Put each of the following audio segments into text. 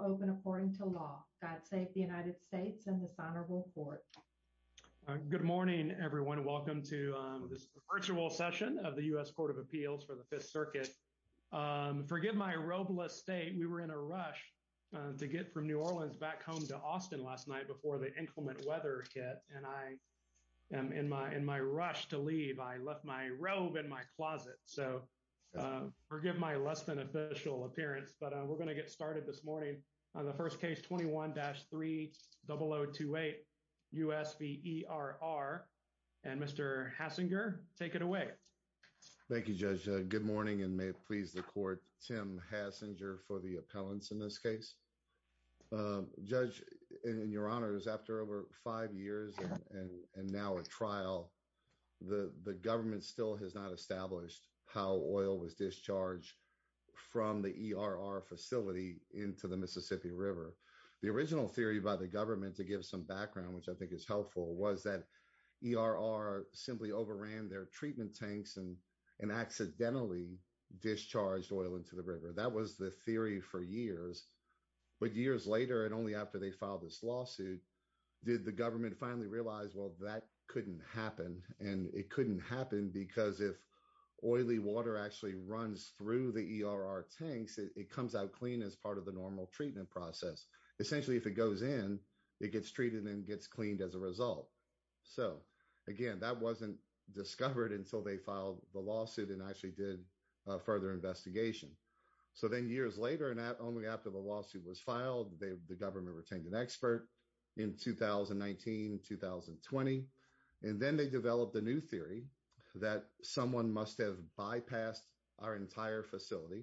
open according to law. God save the United States and this honorable court. Good morning, everyone. Welcome to this virtual session of the U.S. Court of Appeals for the Fifth Circuit. Forgive my robeless state. We were in a rush to get from New Orleans back home to Austin last night before the inclement weather hit. And I am in my in my rush to leave. I left my robe in my closet. So forgive my less than official appearance. But we're going to get started this morning on the first case. Twenty one dash three double 0 2 8 U.S. v. E.R.R. And Mr. Hassinger, take it away. Thank you, Judge. Good morning and may it please the court. Tim Hassinger for the appellants in this case. Judge, in your honors, after over five years and now a trial, the government still has not established how oil was discharged from the E.R.R. facility into the Mississippi River. The original theory by the government to give some background, which I think is helpful, was that E.R.R. simply overran their treatment tanks and and accidentally discharged oil into the river. That was the theory for years. But years later and only after they filed this lawsuit did the government finally realize, well, that couldn't happen and it couldn't happen because if oily water actually runs through the E.R.R. tanks, it comes out clean as part of the normal treatment process. Essentially, if it goes in, it gets treated and gets cleaned as a result. So again, that wasn't discovered until they filed the lawsuit and actually did further investigation. So then years later and only after the lawsuit was filed, the government retained an expert in 2019, 2020, and then they developed a new theory that someone must have bypassed our entire facility,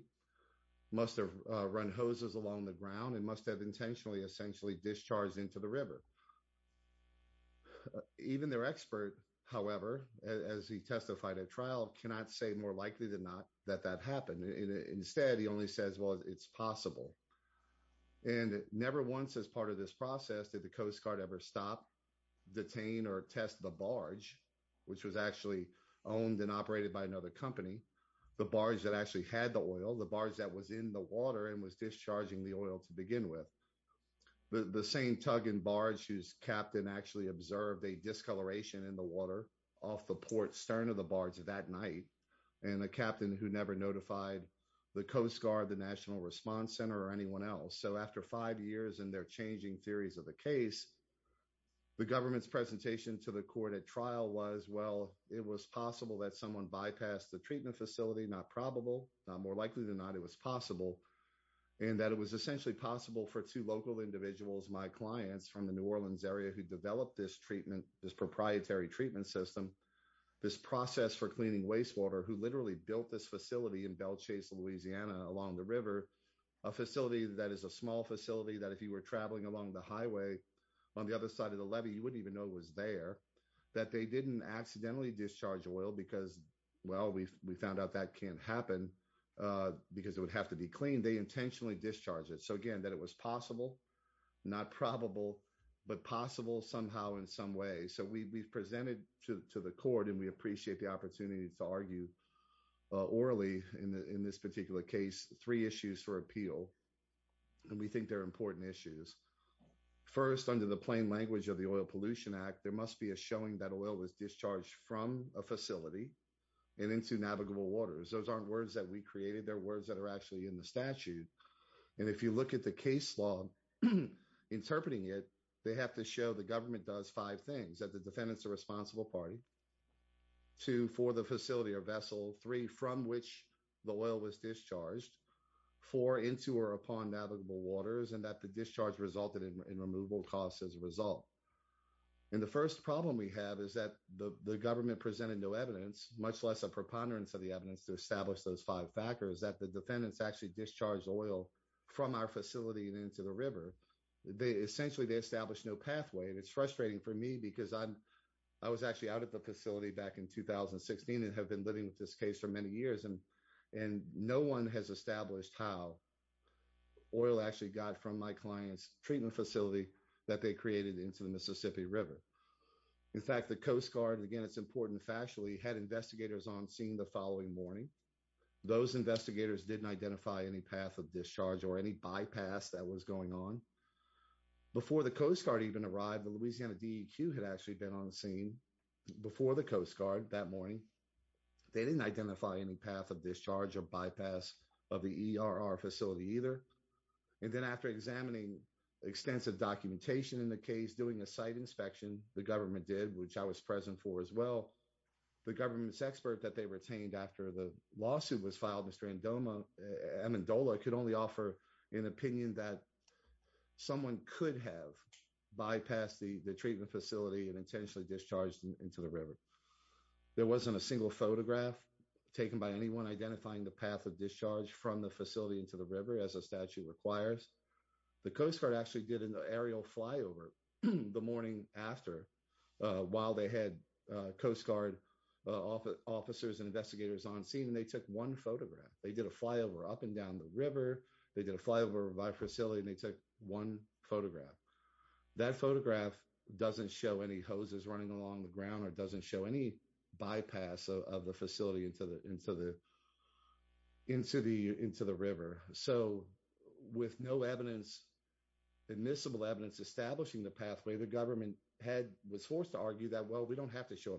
must have run hoses along the ground, and must have intentionally essentially discharged into the river. Even their expert, however, as he testified at trial, cannot say more likely than not that that happened. Instead, he only says, well, it's possible. And never once as part of this the barge, which was actually owned and operated by another company, the barge that actually had the oil, the barge that was in the water and was discharging the oil to begin with, the same tug and barge whose captain actually observed a discoloration in the water off the port stern of the barge that night and a captain who never notified the Coast Guard, the National Response Center, or anyone else. So after five years and they're changing theories of the case, the government's presentation to the court at trial was, well, it was possible that someone bypassed the treatment facility, not probable, not more likely than not it was possible, and that it was essentially possible for two local individuals, my clients from the New Orleans area who developed this treatment, this proprietary treatment system, this process for cleaning wastewater who literally built this facility in Belchase, Louisiana along the river, a facility that is a small facility that if you were traveling along the highway on the other side of the levee, you wouldn't even know it was there, that they didn't accidentally discharge oil because, well, we found out that can't happen because it would have to be cleaned. They intentionally discharged it. So again, that it was possible, not probable, but possible somehow in some way. So we presented to the court and we appreciate the opportunity to argue orally in this particular case three issues for appeal, and we think they're important issues. First, under the plain language of the Oil Pollution Act, there must be a showing that oil was discharged from a facility and into navigable waters. Those aren't words that we created. They're words that are actually in the statute, and if you look at the case law interpreting it, they have to show the government does five things, that the defendant's a responsible party, two, for the facility or vessel, three, from which the oil was discharged, four, into or upon navigable waters, and that the discharge resulted in removal costs as a result. And the first problem we have is that the government presented no evidence, much less a preponderance of the evidence to establish those five factors, that the defendants actually discharged oil from our facility and into the river. Essentially, they established no pathway, and it's frustrating for me because I was actually out at the facility back in 2016 and have been living with this case for many years, and no one has established how oil actually got from my client's treatment facility that they created into the Mississippi River. In fact, the Coast Guard, again, it's important factually, had investigators on scene the following morning. Those investigators didn't identify any path of discharge or any bypass that was going on. Before the Coast Guard even arrived, the Louisiana DEQ had actually been on the scene before the Coast Guard that morning. They didn't identify any path of discharge or bypass of the ERR facility either. And then after examining extensive documentation in the case, doing a site inspection, the government did, which I was present for as well, the government's expert that they retained after the lawsuit was filed, Mr. Amendola, Amendola could only offer an opinion that someone could have bypassed the treatment facility and intentionally discharged into the river. There wasn't a single photograph taken by anyone identifying the path of discharge from the facility into the river as a statute requires. The Coast Guard actually did an aerial flyover the morning after while they had Coast Guard officers and investigators on scene, and they took one photograph. They did a flyover up and down the river. They did a flyover by facility, and they took one photograph. That photograph doesn't show any hoses running along the ground or doesn't show any bypass of the facility into the river. So with no evidence, admissible evidence, establishing the pathway, the government was forced to argue that, well, we don't have to show a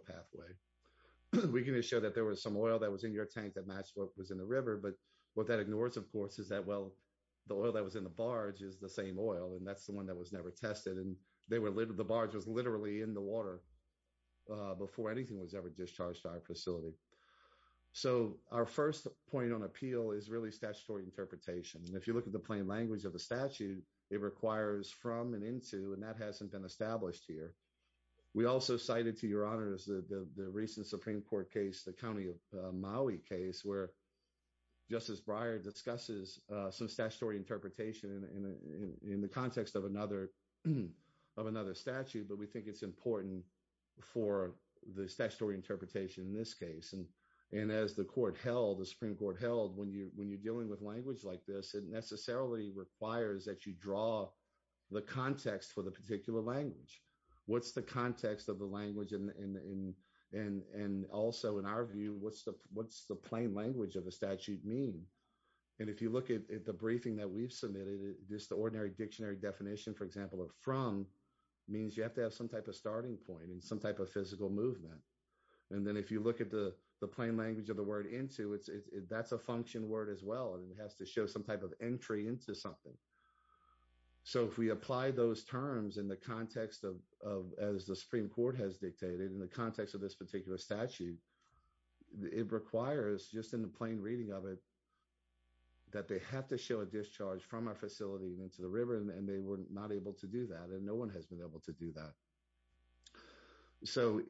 pathway. We can just show that there was some oil that was in your tank that matched what was in the river. But what that ignores, of course, is that, well, the oil that was in the barge is the same oil, and that's the one that was never tested. And the barge was literally in the water before anything was ever discharged to our facility. So our first point on appeal is really statutory interpretation. And if you look at the plain language of the statute, it requires from and into, and that hasn't been established here. We also cited to your honors the recent Supreme Court case, the County of Maui case, where Justice Breyer discusses some statutory interpretation in the context of another statute, but we think it's important for the statutory interpretation in this case. And as the Supreme Court held, when you're dealing with language like this, it necessarily requires that you draw the context for the particular language. What's the context of the language? And also, in our view, what's the plain language of the statute mean? And if you look at the briefing that we've submitted, just the ordinary dictionary definition, for example, of from means you have to have some type of starting point and some type of physical movement. And then if you look at the into, that's a function word as well, and it has to show some type of entry into something. So if we apply those terms in the context of, as the Supreme Court has dictated, in the context of this particular statute, it requires, just in the plain reading of it, that they have to show a discharge from our facility and into the river, and they were not able to do that, and no one has been able to do that. So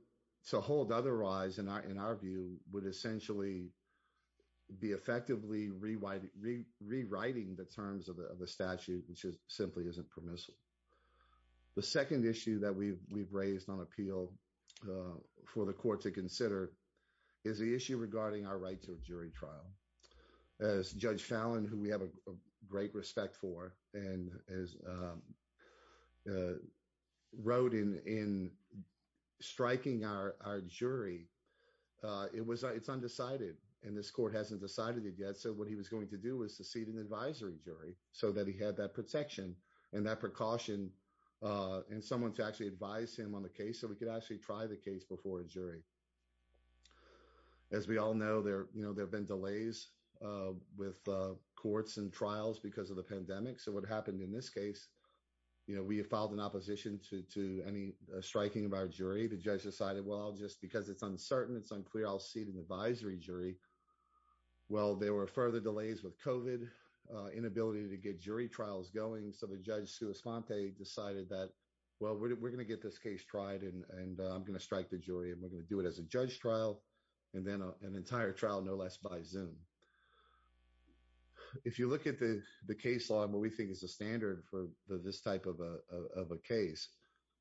to hold otherwise, in our view, would essentially be effectively rewriting the terms of the statute, which simply isn't permissible. The second issue that we've raised on appeal for the court to consider is the issue regarding our right to a jury trial. As Judge Fallon, who we have a great respect for, wrote in striking our jury, it's undecided, and this court hasn't decided it yet, so what he was going to do was to seat an advisory jury so that he had that protection and that precaution and someone to actually advise him on the case so we could actually try the case before a jury. As we all know, there have been delays with courts and trials because of the pandemic, so what happened in this case, we filed an opposition to any striking of our jury. The judge decided, well, just because it's uncertain, it's unclear, I'll seat an advisory jury. Well, there were further delays with COVID, inability to get jury trials going, so the judge, Sue Esponte, decided that, well, we're going to get this case tried and I'm going to no less by Zoom. If you look at the case law and what we think is the standard for this type of a case,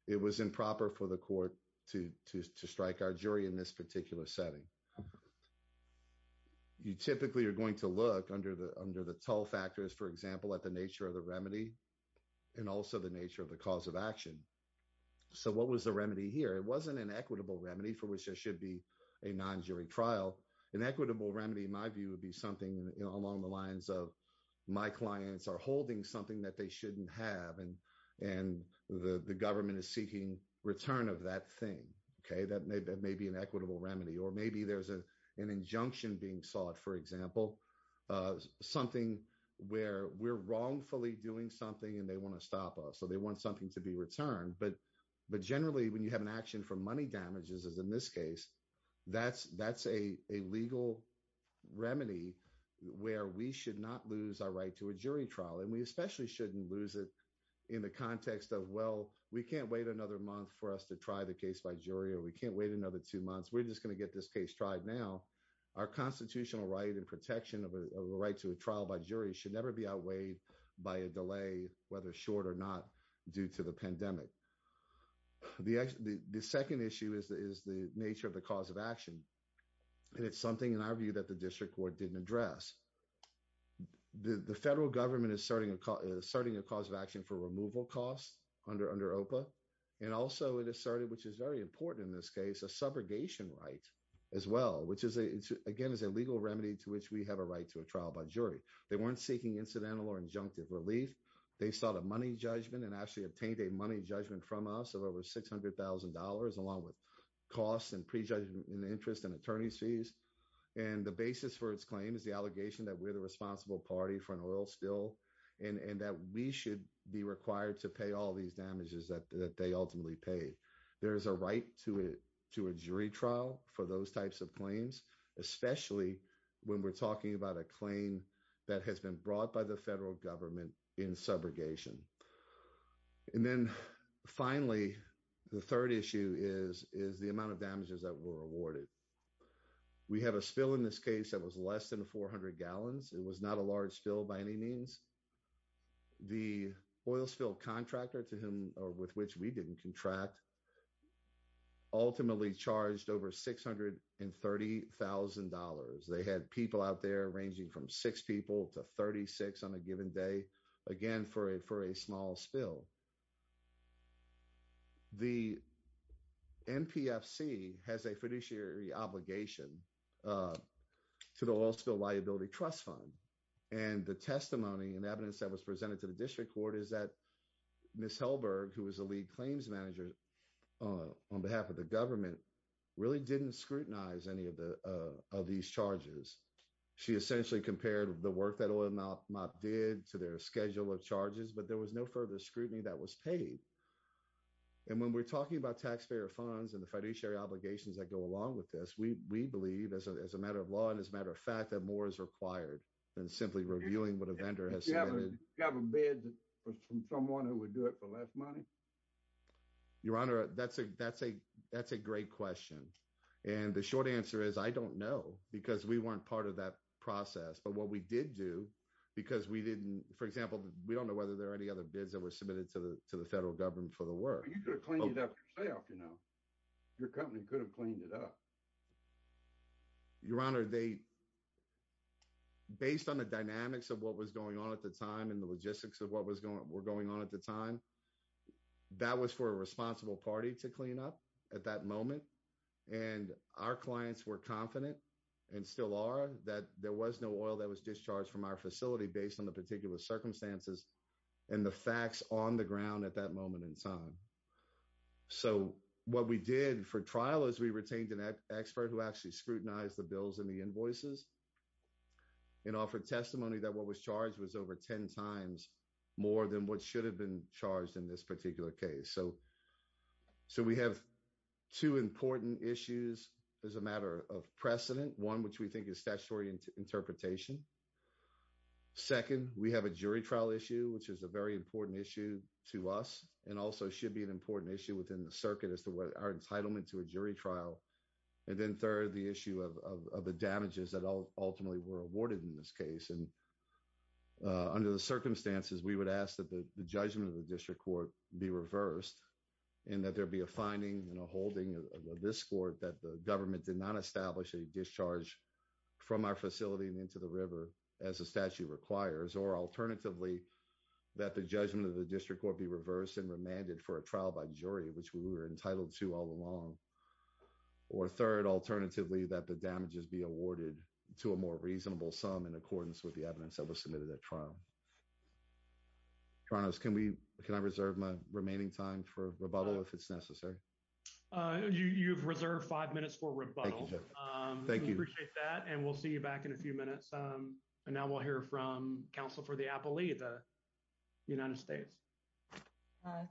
it was improper for the court to strike our jury in this particular setting. You typically are going to look under the toll factors, for example, at the nature of the remedy and also the nature of the cause of action, so what was the remedy here? It wasn't an equitable remedy for which there should be a non-jury trial. An equitable remedy, in my view, would be something along the lines of my clients are holding something that they shouldn't have and the government is seeking return of that thing. That may be an equitable remedy or maybe there's an injunction being sought, for example, something where we're wrongfully doing something and they want to stop us, so they want something to be returned, but generally, when you have an action for money damages, as in this case, that's a legal remedy where we should not lose our right to a jury trial and we especially shouldn't lose it in the context of, well, we can't wait another month for us to try the case by jury or we can't wait another two months. We're just going to get this case tried now. Our constitutional right and protection of a right to a trial by jury should never be outweighed by a delay, whether short or not, due to the pandemic. The second issue is the nature of the cause of action and it's something, in our view, that the district court didn't address. The federal government is asserting a cause of action for removal costs under OPA and also it asserted, which is very important in this case, a subrogation right as well, which again is a legal remedy to which we have a right to a trial by jury. They weren't seeking incidental or injunctive relief. They sought a money judgment and actually obtained a money judgment from us of over $600,000 along with costs and prejudgment in interest and attorney's fees and the basis for its claim is the allegation that we're the responsible party for an oil spill and that we should be required to pay all these damages that they ultimately pay. There's a right to a jury trial for those types of claims, especially when we're about a claim that has been brought by the federal government in subrogation. And then finally, the third issue is the amount of damages that were awarded. We have a spill in this case that was less than 400 gallons. It was not a large spill by any means. The oil spill contractor to whom or with which we didn't contract ultimately charged over $630,000. They had people out there ranging from six people to 36 on a given day, again, for a small spill. The NPFC has a fiduciary obligation to the oil spill liability trust fund and the testimony and evidence that was presented to the district court is that who was the lead claims manager on behalf of the government really didn't scrutinize any of these charges. She essentially compared the work that oil mop did to their schedule of charges, but there was no further scrutiny that was paid. And when we're talking about taxpayer funds and the fiduciary obligations that go along with this, we believe as a matter of law and as a matter of fact that more is required than simply reviewing what a vendor has submitted. You have a bid from someone who would do it for less money? Your Honor, that's a great question. And the short answer is I don't know because we weren't part of that process. But what we did do, because we didn't, for example, we don't know whether there are any other bids that were submitted to the federal government for the work. You could have cleaned it up yourself, you know. Your company could have cleaned it up. Your Honor, based on the dynamics of what was going on at the time and the logistics of what was going on at the time, that was for a responsible party to clean up at that moment. And our clients were confident and still are that there was no oil that was discharged from our facility based on the particular circumstances and the facts on the ground at that moment in time. So what we did for trial is we retained an expert who actually scrutinized the bills and the invoices and offered testimony that what was charged was over 10 times more than what should have been charged in this particular case. So we have two important issues as a matter of precedent. One, which we think is statutory interpretation. Second, we have a jury trial issue, which is a very important issue to us and also should be an important issue within the circuit as to our ultimately were awarded in this case. And under the circumstances, we would ask that the judgment of the district court be reversed and that there be a finding and a holding of this court that the government did not establish a discharge from our facility and into the river as a statute requires. Or alternatively, that the judgment of the district court be reversed and remanded for a trial by jury, which we were entitled to all along. Or third, alternatively, that the damages be to a more reasonable sum in accordance with the evidence that was submitted at trial. Torontos, can I reserve my remaining time for rebuttal if it's necessary? You've reserved five minutes for rebuttal. We appreciate that and we'll see you back in a few minutes. And now we'll hear from counsel for the appellee, the United States.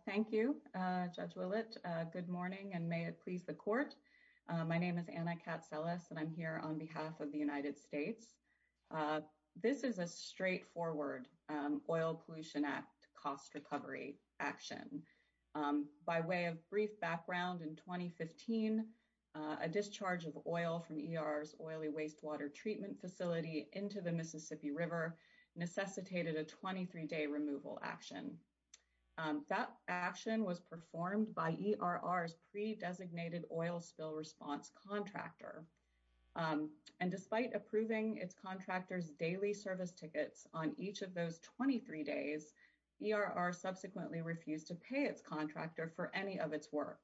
Thank you, Judge Willett. Good morning and may it please the court. My name is Anna Katzelas and I'm here on behalf of the United States. This is a straightforward Oil Pollution Act cost recovery action. By way of brief background in 2015, a discharge of oil from ER's oily wastewater treatment facility into the Mississippi River necessitated a 23-day removal action. That action was performed by ERR's pre-designated oil spill response contractor. And despite approving its contractor's daily service tickets on each of those 23 days, ERR subsequently refused to pay its contractor for any of its work,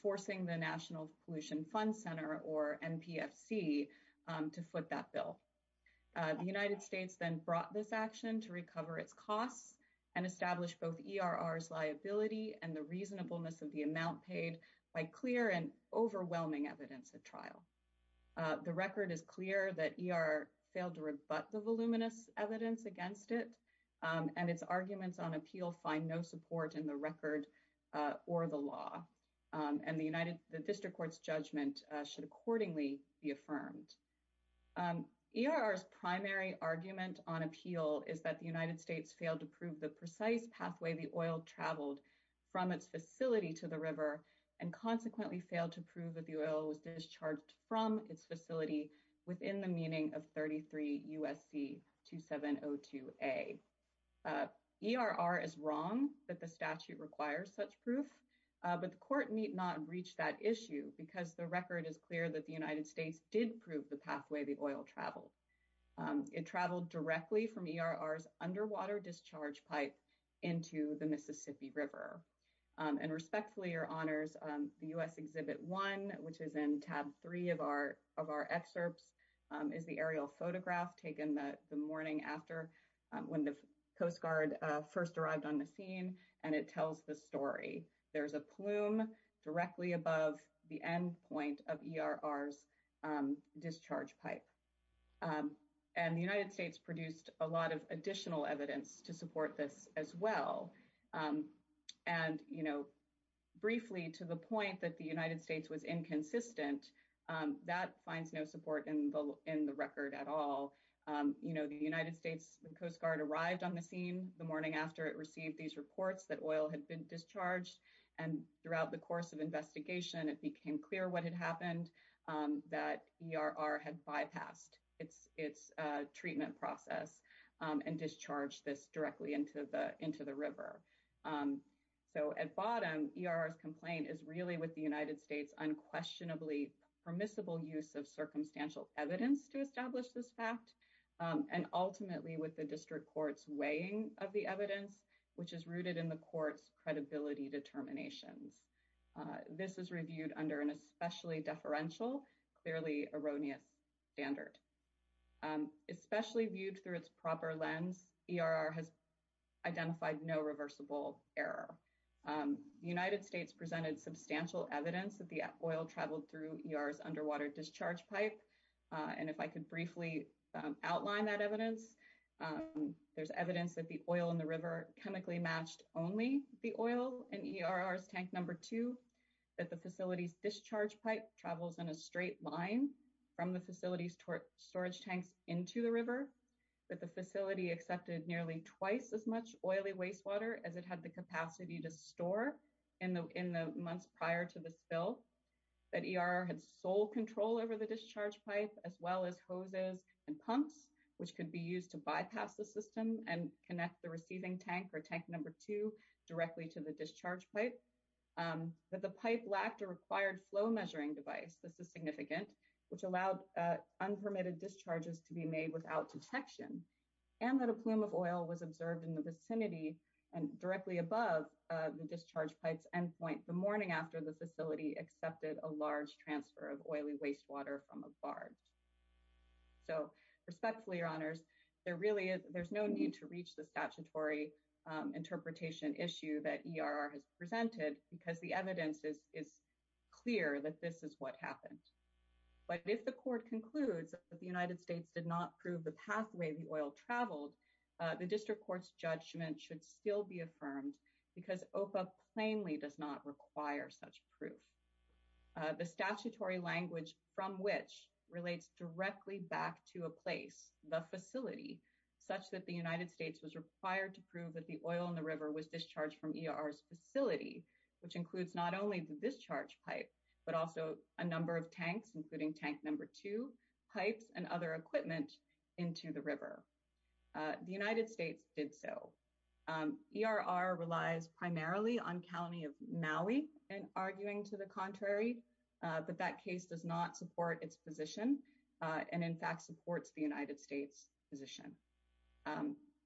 forcing the National Pollution Fund Center or NPFC to foot that bill. The United States then brought this action to recover its costs and establish both ERR's liability and the reasonableness of the amount paid by clear and overwhelming evidence at trial. The record is clear that ER failed to rebut the voluminous evidence against it and its arguments on appeal find no support in the record or the law. And the district court's judgment should accordingly be affirmed. ERR's primary argument on appeal is that the United States failed to prove the precise pathway the oil traveled from its facility to the river and consequently failed to prove that the oil was discharged from its facility within the meaning of 33 U.S.C. 2702A. ERR is wrong that the statute requires such proof, but the court need not reach that issue because the record is clear that the United States did prove the pathway the oil traveled. It traveled directly from ERR's discharge pipe into the Mississippi River. And respectfully, your honors, the U.S. Exhibit 1, which is in tab 3 of our excerpts, is the aerial photograph taken the morning after when the Coast Guard first arrived on the scene, and it tells the story. There's a plume directly above the end point of ERR's discharge pipe. And the United States produced a lot of additional evidence to support this as well. And, you know, briefly, to the point that the United States was inconsistent, that finds no support in the record at all. You know, the United States Coast Guard arrived on the scene the morning after it received these reports that oil had been discharged, and throughout the course of investigation, it became clear what had happened, that ERR had bypassed its treatment process and discharged this directly into the river. So at bottom, ERR's complaint is really with the United States unquestionably permissible use of circumstantial evidence to establish this fact, and ultimately with the district court's weighing of the evidence, which is rooted in the court's credibility determinations. This is reviewed under an especially deferential, clearly erroneous standard. Especially viewed through its proper lens, ERR has identified no reversible error. The United States presented substantial evidence that the oil traveled through ERR's underwater discharge pipe, and if I could briefly outline that evidence, there's evidence that the oil in the river chemically matched only the oil in ERR's discharge pipe. That the facility's discharge pipe travels in a straight line from the facility's storage tanks into the river. That the facility accepted nearly twice as much oily wastewater as it had the capacity to store in the months prior to the spill. That ERR had sole control over the discharge pipe, as well as hoses and pumps, which could be used to bypass the system and connect the receiving tank, or tank number two, directly to the discharge pipe. That the pipe lacked a required flow measuring device, this is significant, which allowed unpermitted discharges to be made without detection. And that a plume of oil was observed in the vicinity and directly above the discharge pipe's endpoint the morning after the facility accepted a large transfer of oily wastewater from a barge. So respectfully, your honors, there really is, no need to reach the statutory interpretation issue that ERR has presented, because the evidence is clear that this is what happened. But if the court concludes that the United States did not prove the pathway the oil traveled, the district court's judgment should still be affirmed, because OPA plainly does not require such proof. The statutory language from which relates directly back to a place, the facility, such that the United States was required to prove that the oil in the river was discharged from ERR's facility, which includes not only the discharge pipe, but also a number of tanks, including tank number two, pipes, and other equipment into the river. The United States did so. ERR relies primarily on County of Maui in arguing to the contrary, but that case does not support its position, and in fact supports the United States position.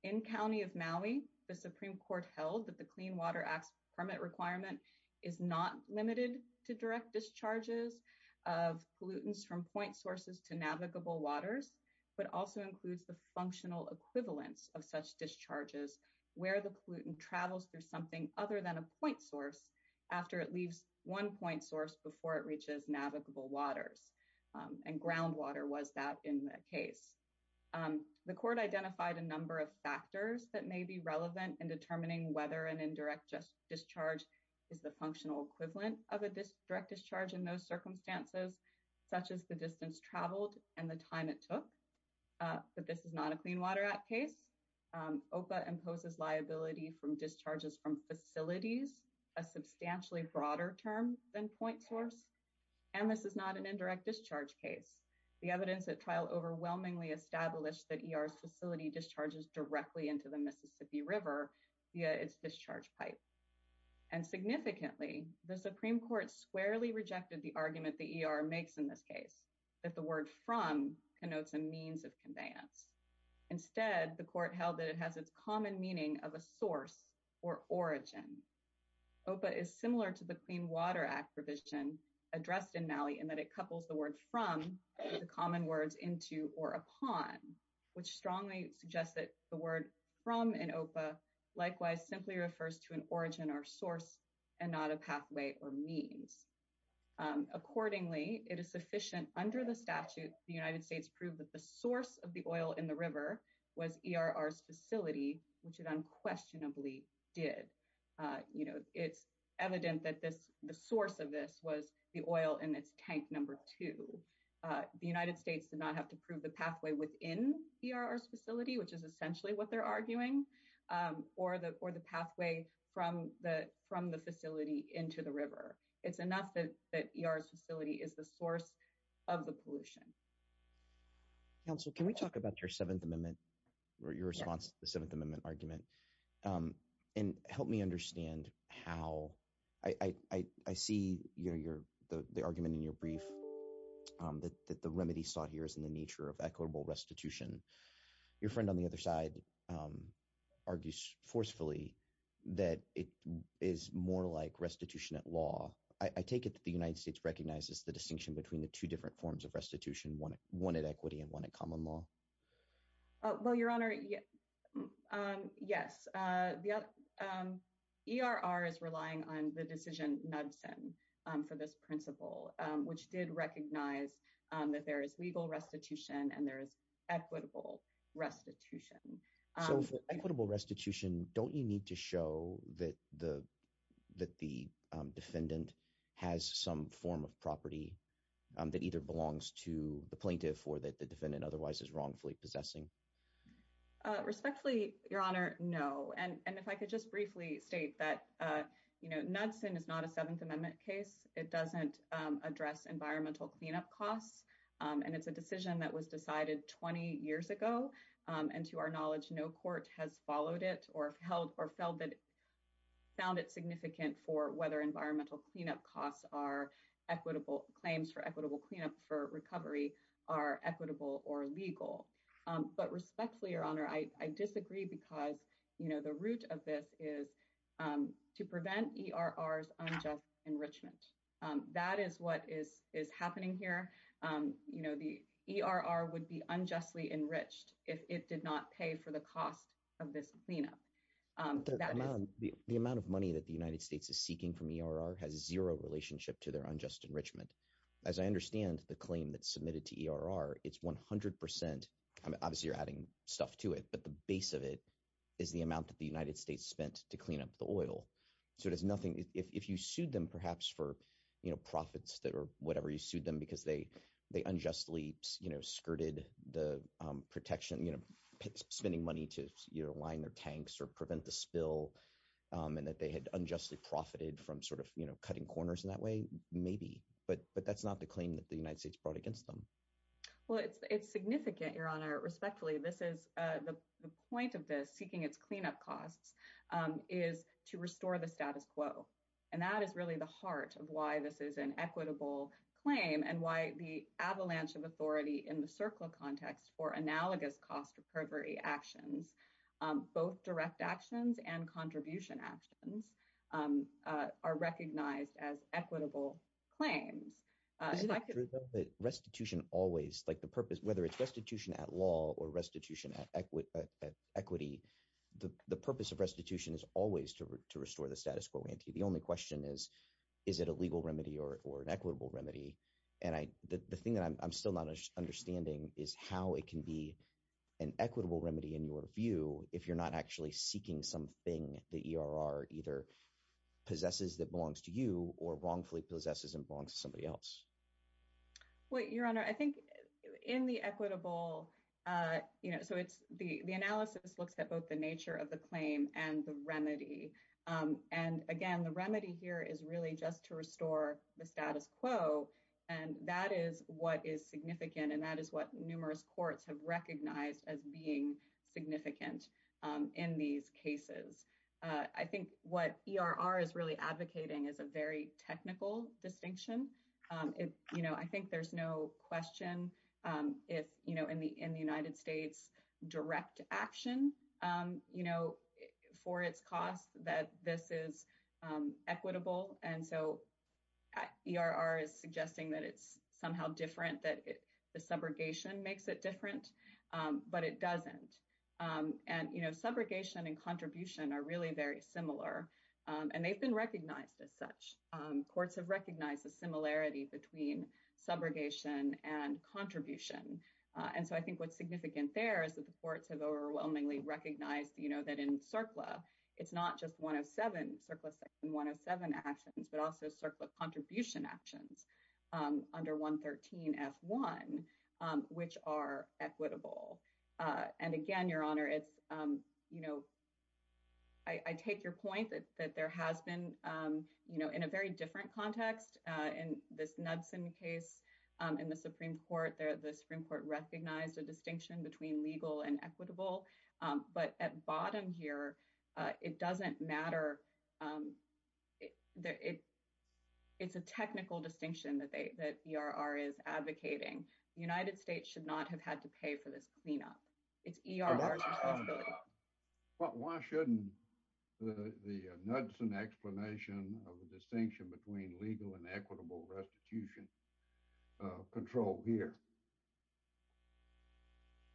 In County of Maui, the Supreme Court held that the Clean Water Act's permit requirement is not limited to direct discharges of pollutants from point sources to navigable waters, but also includes the functional equivalence of such discharges, where the pollutant travels through something other than a point source after it leaves one point source before it reaches navigable waters, and groundwater was that in the case. The court identified a number of factors that may be relevant in determining whether an indirect discharge is the functional equivalent of a direct discharge in those circumstances, such as the distance traveled and the time it took, but this is not a Clean Water Act case. OPA imposes liability from discharges from facilities, a substantially broader term than point source, and this is not an indirect discharge case. The evidence at trial overwhelmingly established that ERR's facility discharges directly into the Mississippi River via its discharge pipe, and significantly, the Supreme Court squarely of conveyance. Instead, the court held that it has its common meaning of a source or origin. OPA is similar to the Clean Water Act provision addressed in Maui in that it couples the word from with the common words into or upon, which strongly suggests that the word from in OPA likewise simply refers to an origin or source and not a pathway or means. Accordingly, it is evident that the source of the oil in the river was ERR's facility, which it unquestionably did. It's evident that the source of this was the oil in its tank number two. The United States did not have to prove the pathway within ERR's facility, which is essentially what they're arguing, or the pathway from the facility into the river. It's enough that ERR's facility is the source of the pollution. Counsel, can we talk about your Seventh Amendment, or your response to the Seventh Amendment argument? And help me understand how I see the argument in your brief that the remedy sought here is in the nature of equitable restitution. Your friend on the other side argues forcefully that it is more like restitution at law. I take it that the United States has a distinction between the two different forms of restitution, one at equity and one at common law? Well, Your Honor, yes. ERR is relying on the decision NUBSN for this principle, which did recognize that there is legal restitution and there is equitable restitution. So for equitable restitution, the defendant has some form of property that either belongs to the plaintiff or that the defendant otherwise is wrongfully possessing. Respectfully, Your Honor, no. And if I could just briefly state that NUBSN is not a Seventh Amendment case. It doesn't address environmental cleanup costs. And it's a decision that was decided 20 years ago. And to our knowledge, no court has followed it or held or felt that found it significant for whether environmental cleanup costs are equitable claims for equitable cleanup for recovery are equitable or legal. But respectfully, Your Honor, I disagree because, you know, the root of this is to prevent ERR's unjust enrichment. That is what is happening here. You know, the ERR would be unjustly enriched if it did not pay for the cost of this cleanup. The amount of money that the United States is seeking from ERR has zero relationship to their unjust enrichment. As I understand the claim that's submitted to ERR, it's 100 percent. Obviously, you're adding stuff to it, but the base of it is the amount that the United States spent to clean up the oil. So it has nothing. If you sued them perhaps for profits or whatever, you sued them because they unjustly skirted the protection, you know, spending money to, you know, line their tanks or prevent the spill and that they had unjustly profited from sort of, you know, cutting corners in that way, maybe. But that's not the claim that the United States brought against them. Well, it's significant, Your Honor. Respectfully, this is the point of this seeking its cleanup costs is to restore the status quo. And that is really the heart of why this is an equitable claim and why the avalanche of authority in the CERCLA context for analogous cost recovery actions, both direct actions and contribution actions, are recognized as equitable claims. Restitution always, like the purpose, whether it's restitution at law or restitution at equity, the purpose of restitution is always to restore the status quo. The only question is, is it a legal remedy or an equitable remedy? And the thing that I'm still not understanding is how it can be an equitable remedy in your view if you're not actually seeking something the ERR either possesses that belongs to you or wrongfully possesses and belongs to somebody else. Well, Your Honor, I think in the equitable, you know, so the analysis looks at both the the status quo and that is what is significant and that is what numerous courts have recognized as being significant in these cases. I think what ERR is really advocating is a very technical distinction. You know, I think there's no question if, you know, in the United States, direct action, you know, for its cost that this is equitable. And so ERR is suggesting that it's somehow different, that the subrogation makes it different, but it doesn't. And, you know, subrogation and contribution are really very similar and they've been recognized as such. Courts have recognized the similarity between subrogation and contribution. And so I think what's significant there is that the courts have overwhelmingly recognized, you know, that in CERCLA, it's not just 107, CERCLA section 107 actions, but also CERCLA contribution actions under 113F1, which are equitable. And again, Your Honor, it's, you know, I take your point that there has been, you know, in a very different context, in this Knudsen case in the Supreme Court recognized a distinction between legal and equitable. But at bottom here, it doesn't matter. It's a technical distinction that ERR is advocating. The United States should not have had to pay for this cleanup. It's ERR's responsibility. But why shouldn't the Knudsen explanation of the distinction between legal and equitable restitution control here?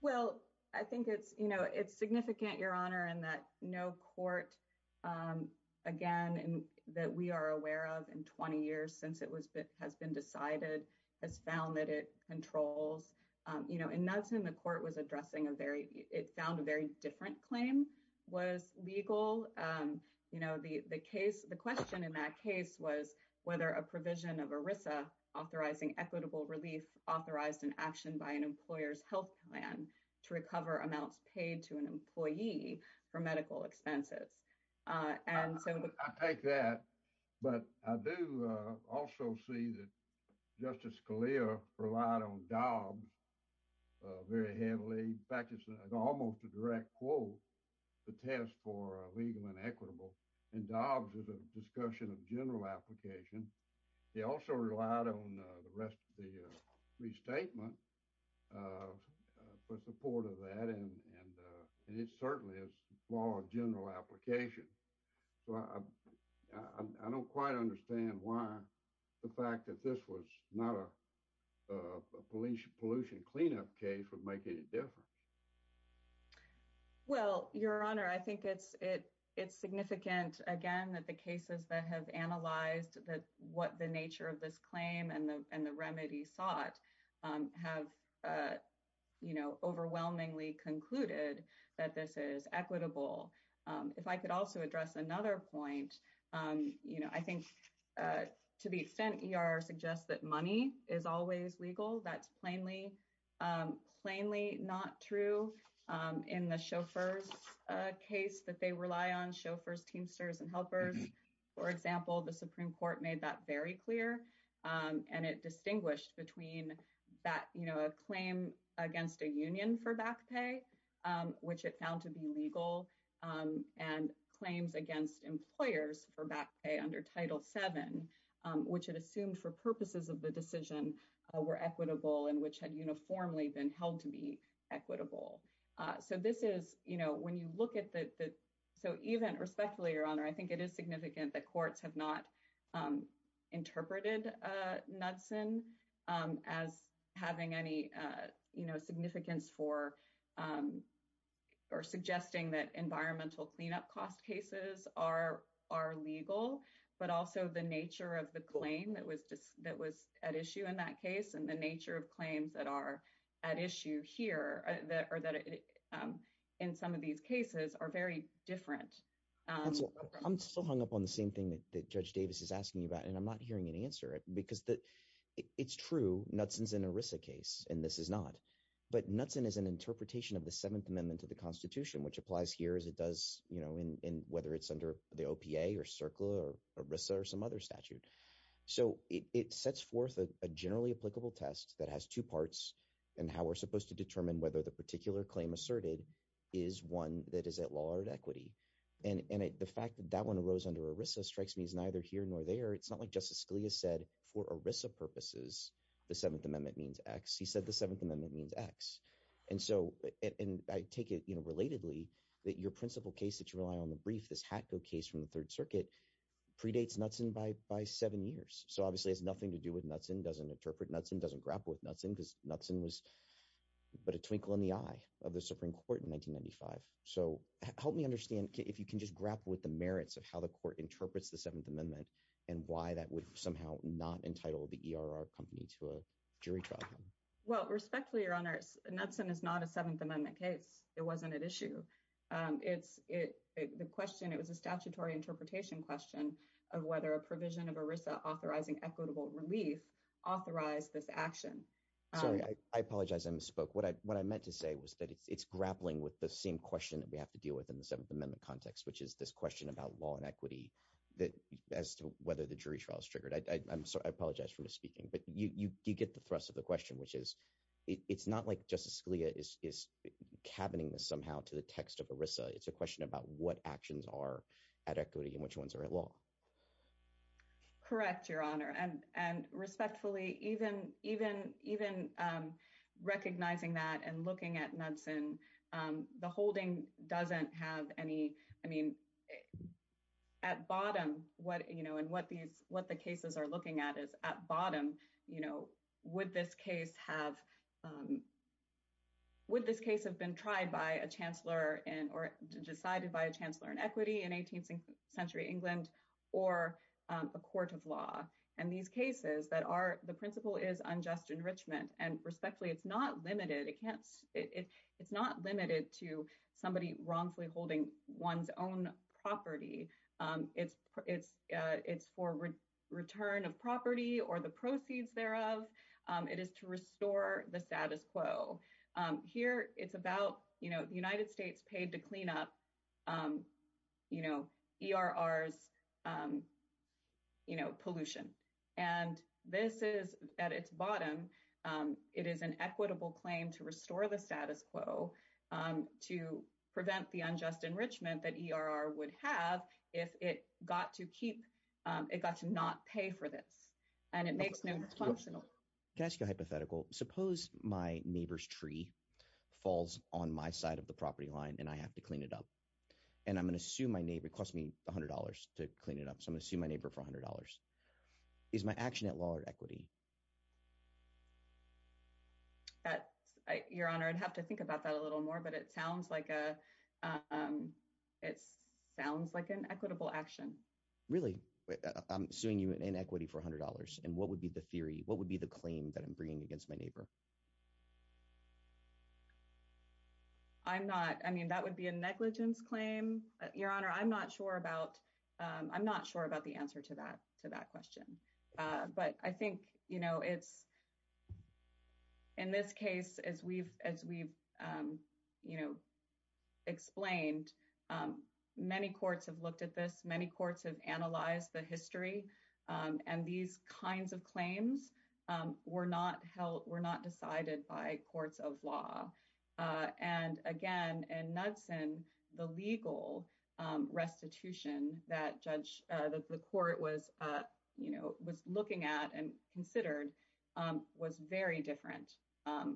Well, I think it's, you know, it's significant, Your Honor, in that no court, again, that we are aware of in 20 years since it has been decided, has found that it controls, you know, in Knudsen, the court was addressing a very, it found a very different claim was legal. You know, the case, the question in that case was whether a provision of ERISA authorizing equitable relief authorized an action by an employer's health plan to recover amounts paid to an employee for medical expenses. And so I take that. But I do also see that Justice Scalia relied on Dobbs very heavily. In fact, it's almost a direct quote, the test for legal and equitable. And Dobbs is a discussion of general application. He also relied on the rest of the restatement for support of that. And it certainly is more general application. So I don't quite understand why the fact that this was not a police pollution cleanup case would make any difference. Well, Your Honor, I think it's it, it's significant, again, that the cases that have analyzed that what the nature of this claim and the and the remedy sought have, you know, overwhelmingly concluded that this is equitable. If I could also address another point, you know, I think to the extent ER suggests that money is always legal, that's plainly, plainly not true. In the chauffeurs case that they rely on chauffeurs, teamsters and helpers, for example, the Supreme Court made that very clear. And it distinguished between that, you know, a claim against a union for back pay, which it found to be legal and claims against employers for back pay under Title 7, which it assumed for purposes of the decision were equitable and which had uniformly been held to be equitable. So this is, you know, when you look at the so even respectfully, Your Honor, I think it is significant that courts have not interpreted Knudsen as having any, you know, for or suggesting that environmental cleanup cost cases are are legal, but also the nature of the claim that was that was at issue in that case and the nature of claims that are at issue here that are that in some of these cases are very different. I'm still hung up on the same thing that Judge Davis is asking you about, and I'm not hearing an answer because it's true Knudsen is an ERISA case and this is not. But Knudsen is an interpretation of the Seventh Amendment to the Constitution, which applies here as it does, you know, in whether it's under the OPA or CERCLA or ERISA or some other statute. So it sets forth a generally applicable test that has two parts and how we're supposed to determine whether the particular claim asserted is one that is at law or at equity. And the fact that that one arose under ERISA strikes me as neither here nor there. It's not like Justice Scalia said for ERISA purposes the Seventh Amendment means X. He said the Seventh Amendment means X. And so and I take it, you know, relatedly that your principal case that you rely on the brief, this HATCO case from the Third Circuit predates Knudsen by by seven years. So obviously it has nothing to do with Knudsen, doesn't interpret Knudsen, doesn't grapple with Knudsen because Knudsen was but a twinkle in the eye of the Supreme Court in 1995. So help me understand if you can just grapple with the merits of how the court interprets the Seventh Amendment and why that would somehow not entitle the ERR company to a jury trial. Well respectfully, Your Honor, Knudsen is not a Seventh Amendment case. It wasn't at issue. It's it the question it was a statutory interpretation question of whether a provision of ERISA authorizing equitable relief authorized this action. Sorry I apologize I misspoke. What I what I meant to say was that it's grappling with the same question that we have to deal with in the Seventh Amendment context which is this question about law and equity that as to whether the jury trial is triggered. I'm sorry I apologize for misspeaking but you you get the thrust of the question which is it's not like Justice Scalia is is cabining this somehow to the text of ERISA. It's a question about what actions are at equity and which ones are at law. Correct, Your Honor, and and respectfully even even even recognizing that and looking at Knudsen the holding doesn't have any I mean at bottom what you know and what these what the cases are looking at is at bottom you know would this case have would this case have been tried by a chancellor and or decided by a chancellor in equity in 18th century England or a court of law and these cases that are the principle is unjust enrichment and respectfully it's not limited it can't it it's not limited to somebody wrongfully holding one's own property it's it's it's for return of property or the proceeds thereof it is to restore the status quo here it's about you know the United States paid to clean up you know ERR's you know pollution and this is at its bottom it is an to prevent the unjust enrichment that ERR would have if it got to keep it got to not pay for this and it makes no functional. Can I ask you a hypothetical? Suppose my neighbor's tree falls on my side of the property line and I have to clean it up and I'm gonna sue my neighbor it cost me a hundred dollars to clean it up so I'm gonna sue my neighbor for a hundred dollars is my action at law or equity? That's your honor I'd have to think about that a little more but it sounds like a it sounds like an equitable action. Really I'm suing you in equity for a hundred dollars and what would be the theory what would be the claim that I'm bringing against my neighbor? I'm not I mean that would be a negligence claim your honor I'm not sure about I'm not sure about the answer to that to that question but I think you know it's in this case as we've as we've you know explained many courts have looked at this many courts have analyzed the history and these kinds of claims were not held were not decided by courts of law and again in Knudsen the legal restitution that judge that the court was you know was looking at and considered was very different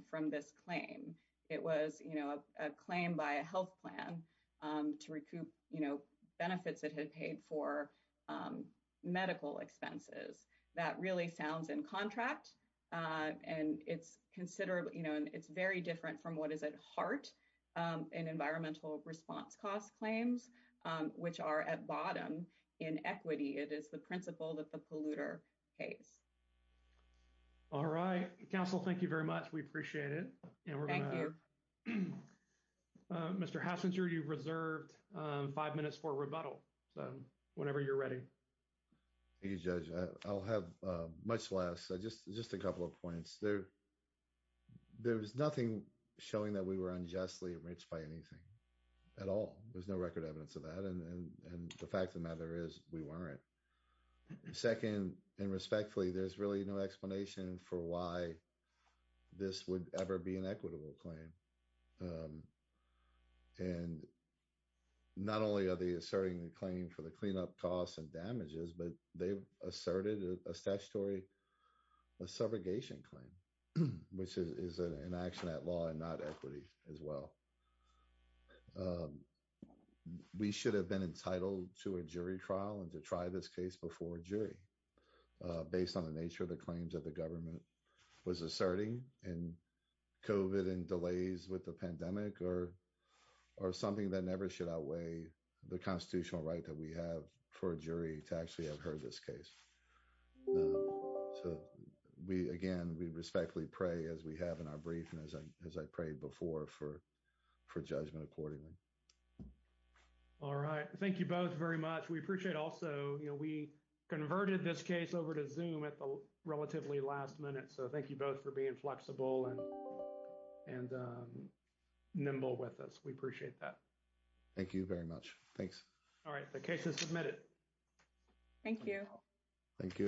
from this claim. It was you know a claim by a health plan to recoup you know benefits it had paid for medical expenses that really sounds in contract and it's considerably you know it's very different from what is at heart in environmental response cost claims which are at bottom in equity it is the principle that the polluter pays. All right counsel thank you very much we appreciate it. Mr. Hassinger you've reserved five minutes for rebuttal so whenever you're ready. Thank you judge I'll have much less just just a couple of points there there was nothing showing that we were unjustly enriched by anything at all there's no record evidence of that and and the fact of the matter is we weren't second and respectfully there's really no explanation for why this would ever be an equitable claim and not only are they asserting the claim for the cleanup costs and damages but they've asserted a statutory a segregation claim which is an action at law and not equity as well we should have been entitled to a jury trial and to try this case before a jury based on the nature of the claims that the government was asserting and COVID and delays with the pandemic or or something that never should outweigh the constitutional right that we have for a jury to actually have heard this case so we again we respectfully pray as we have in our brief and as I as I prayed before for for judgment accordingly all right thank you both very much we appreciate also you know we converted this case over to zoom at the relatively last minute so thank you both for being flexible and and nimble with us we appreciate that thank you very much thanks all right the case is submitted thank you thank you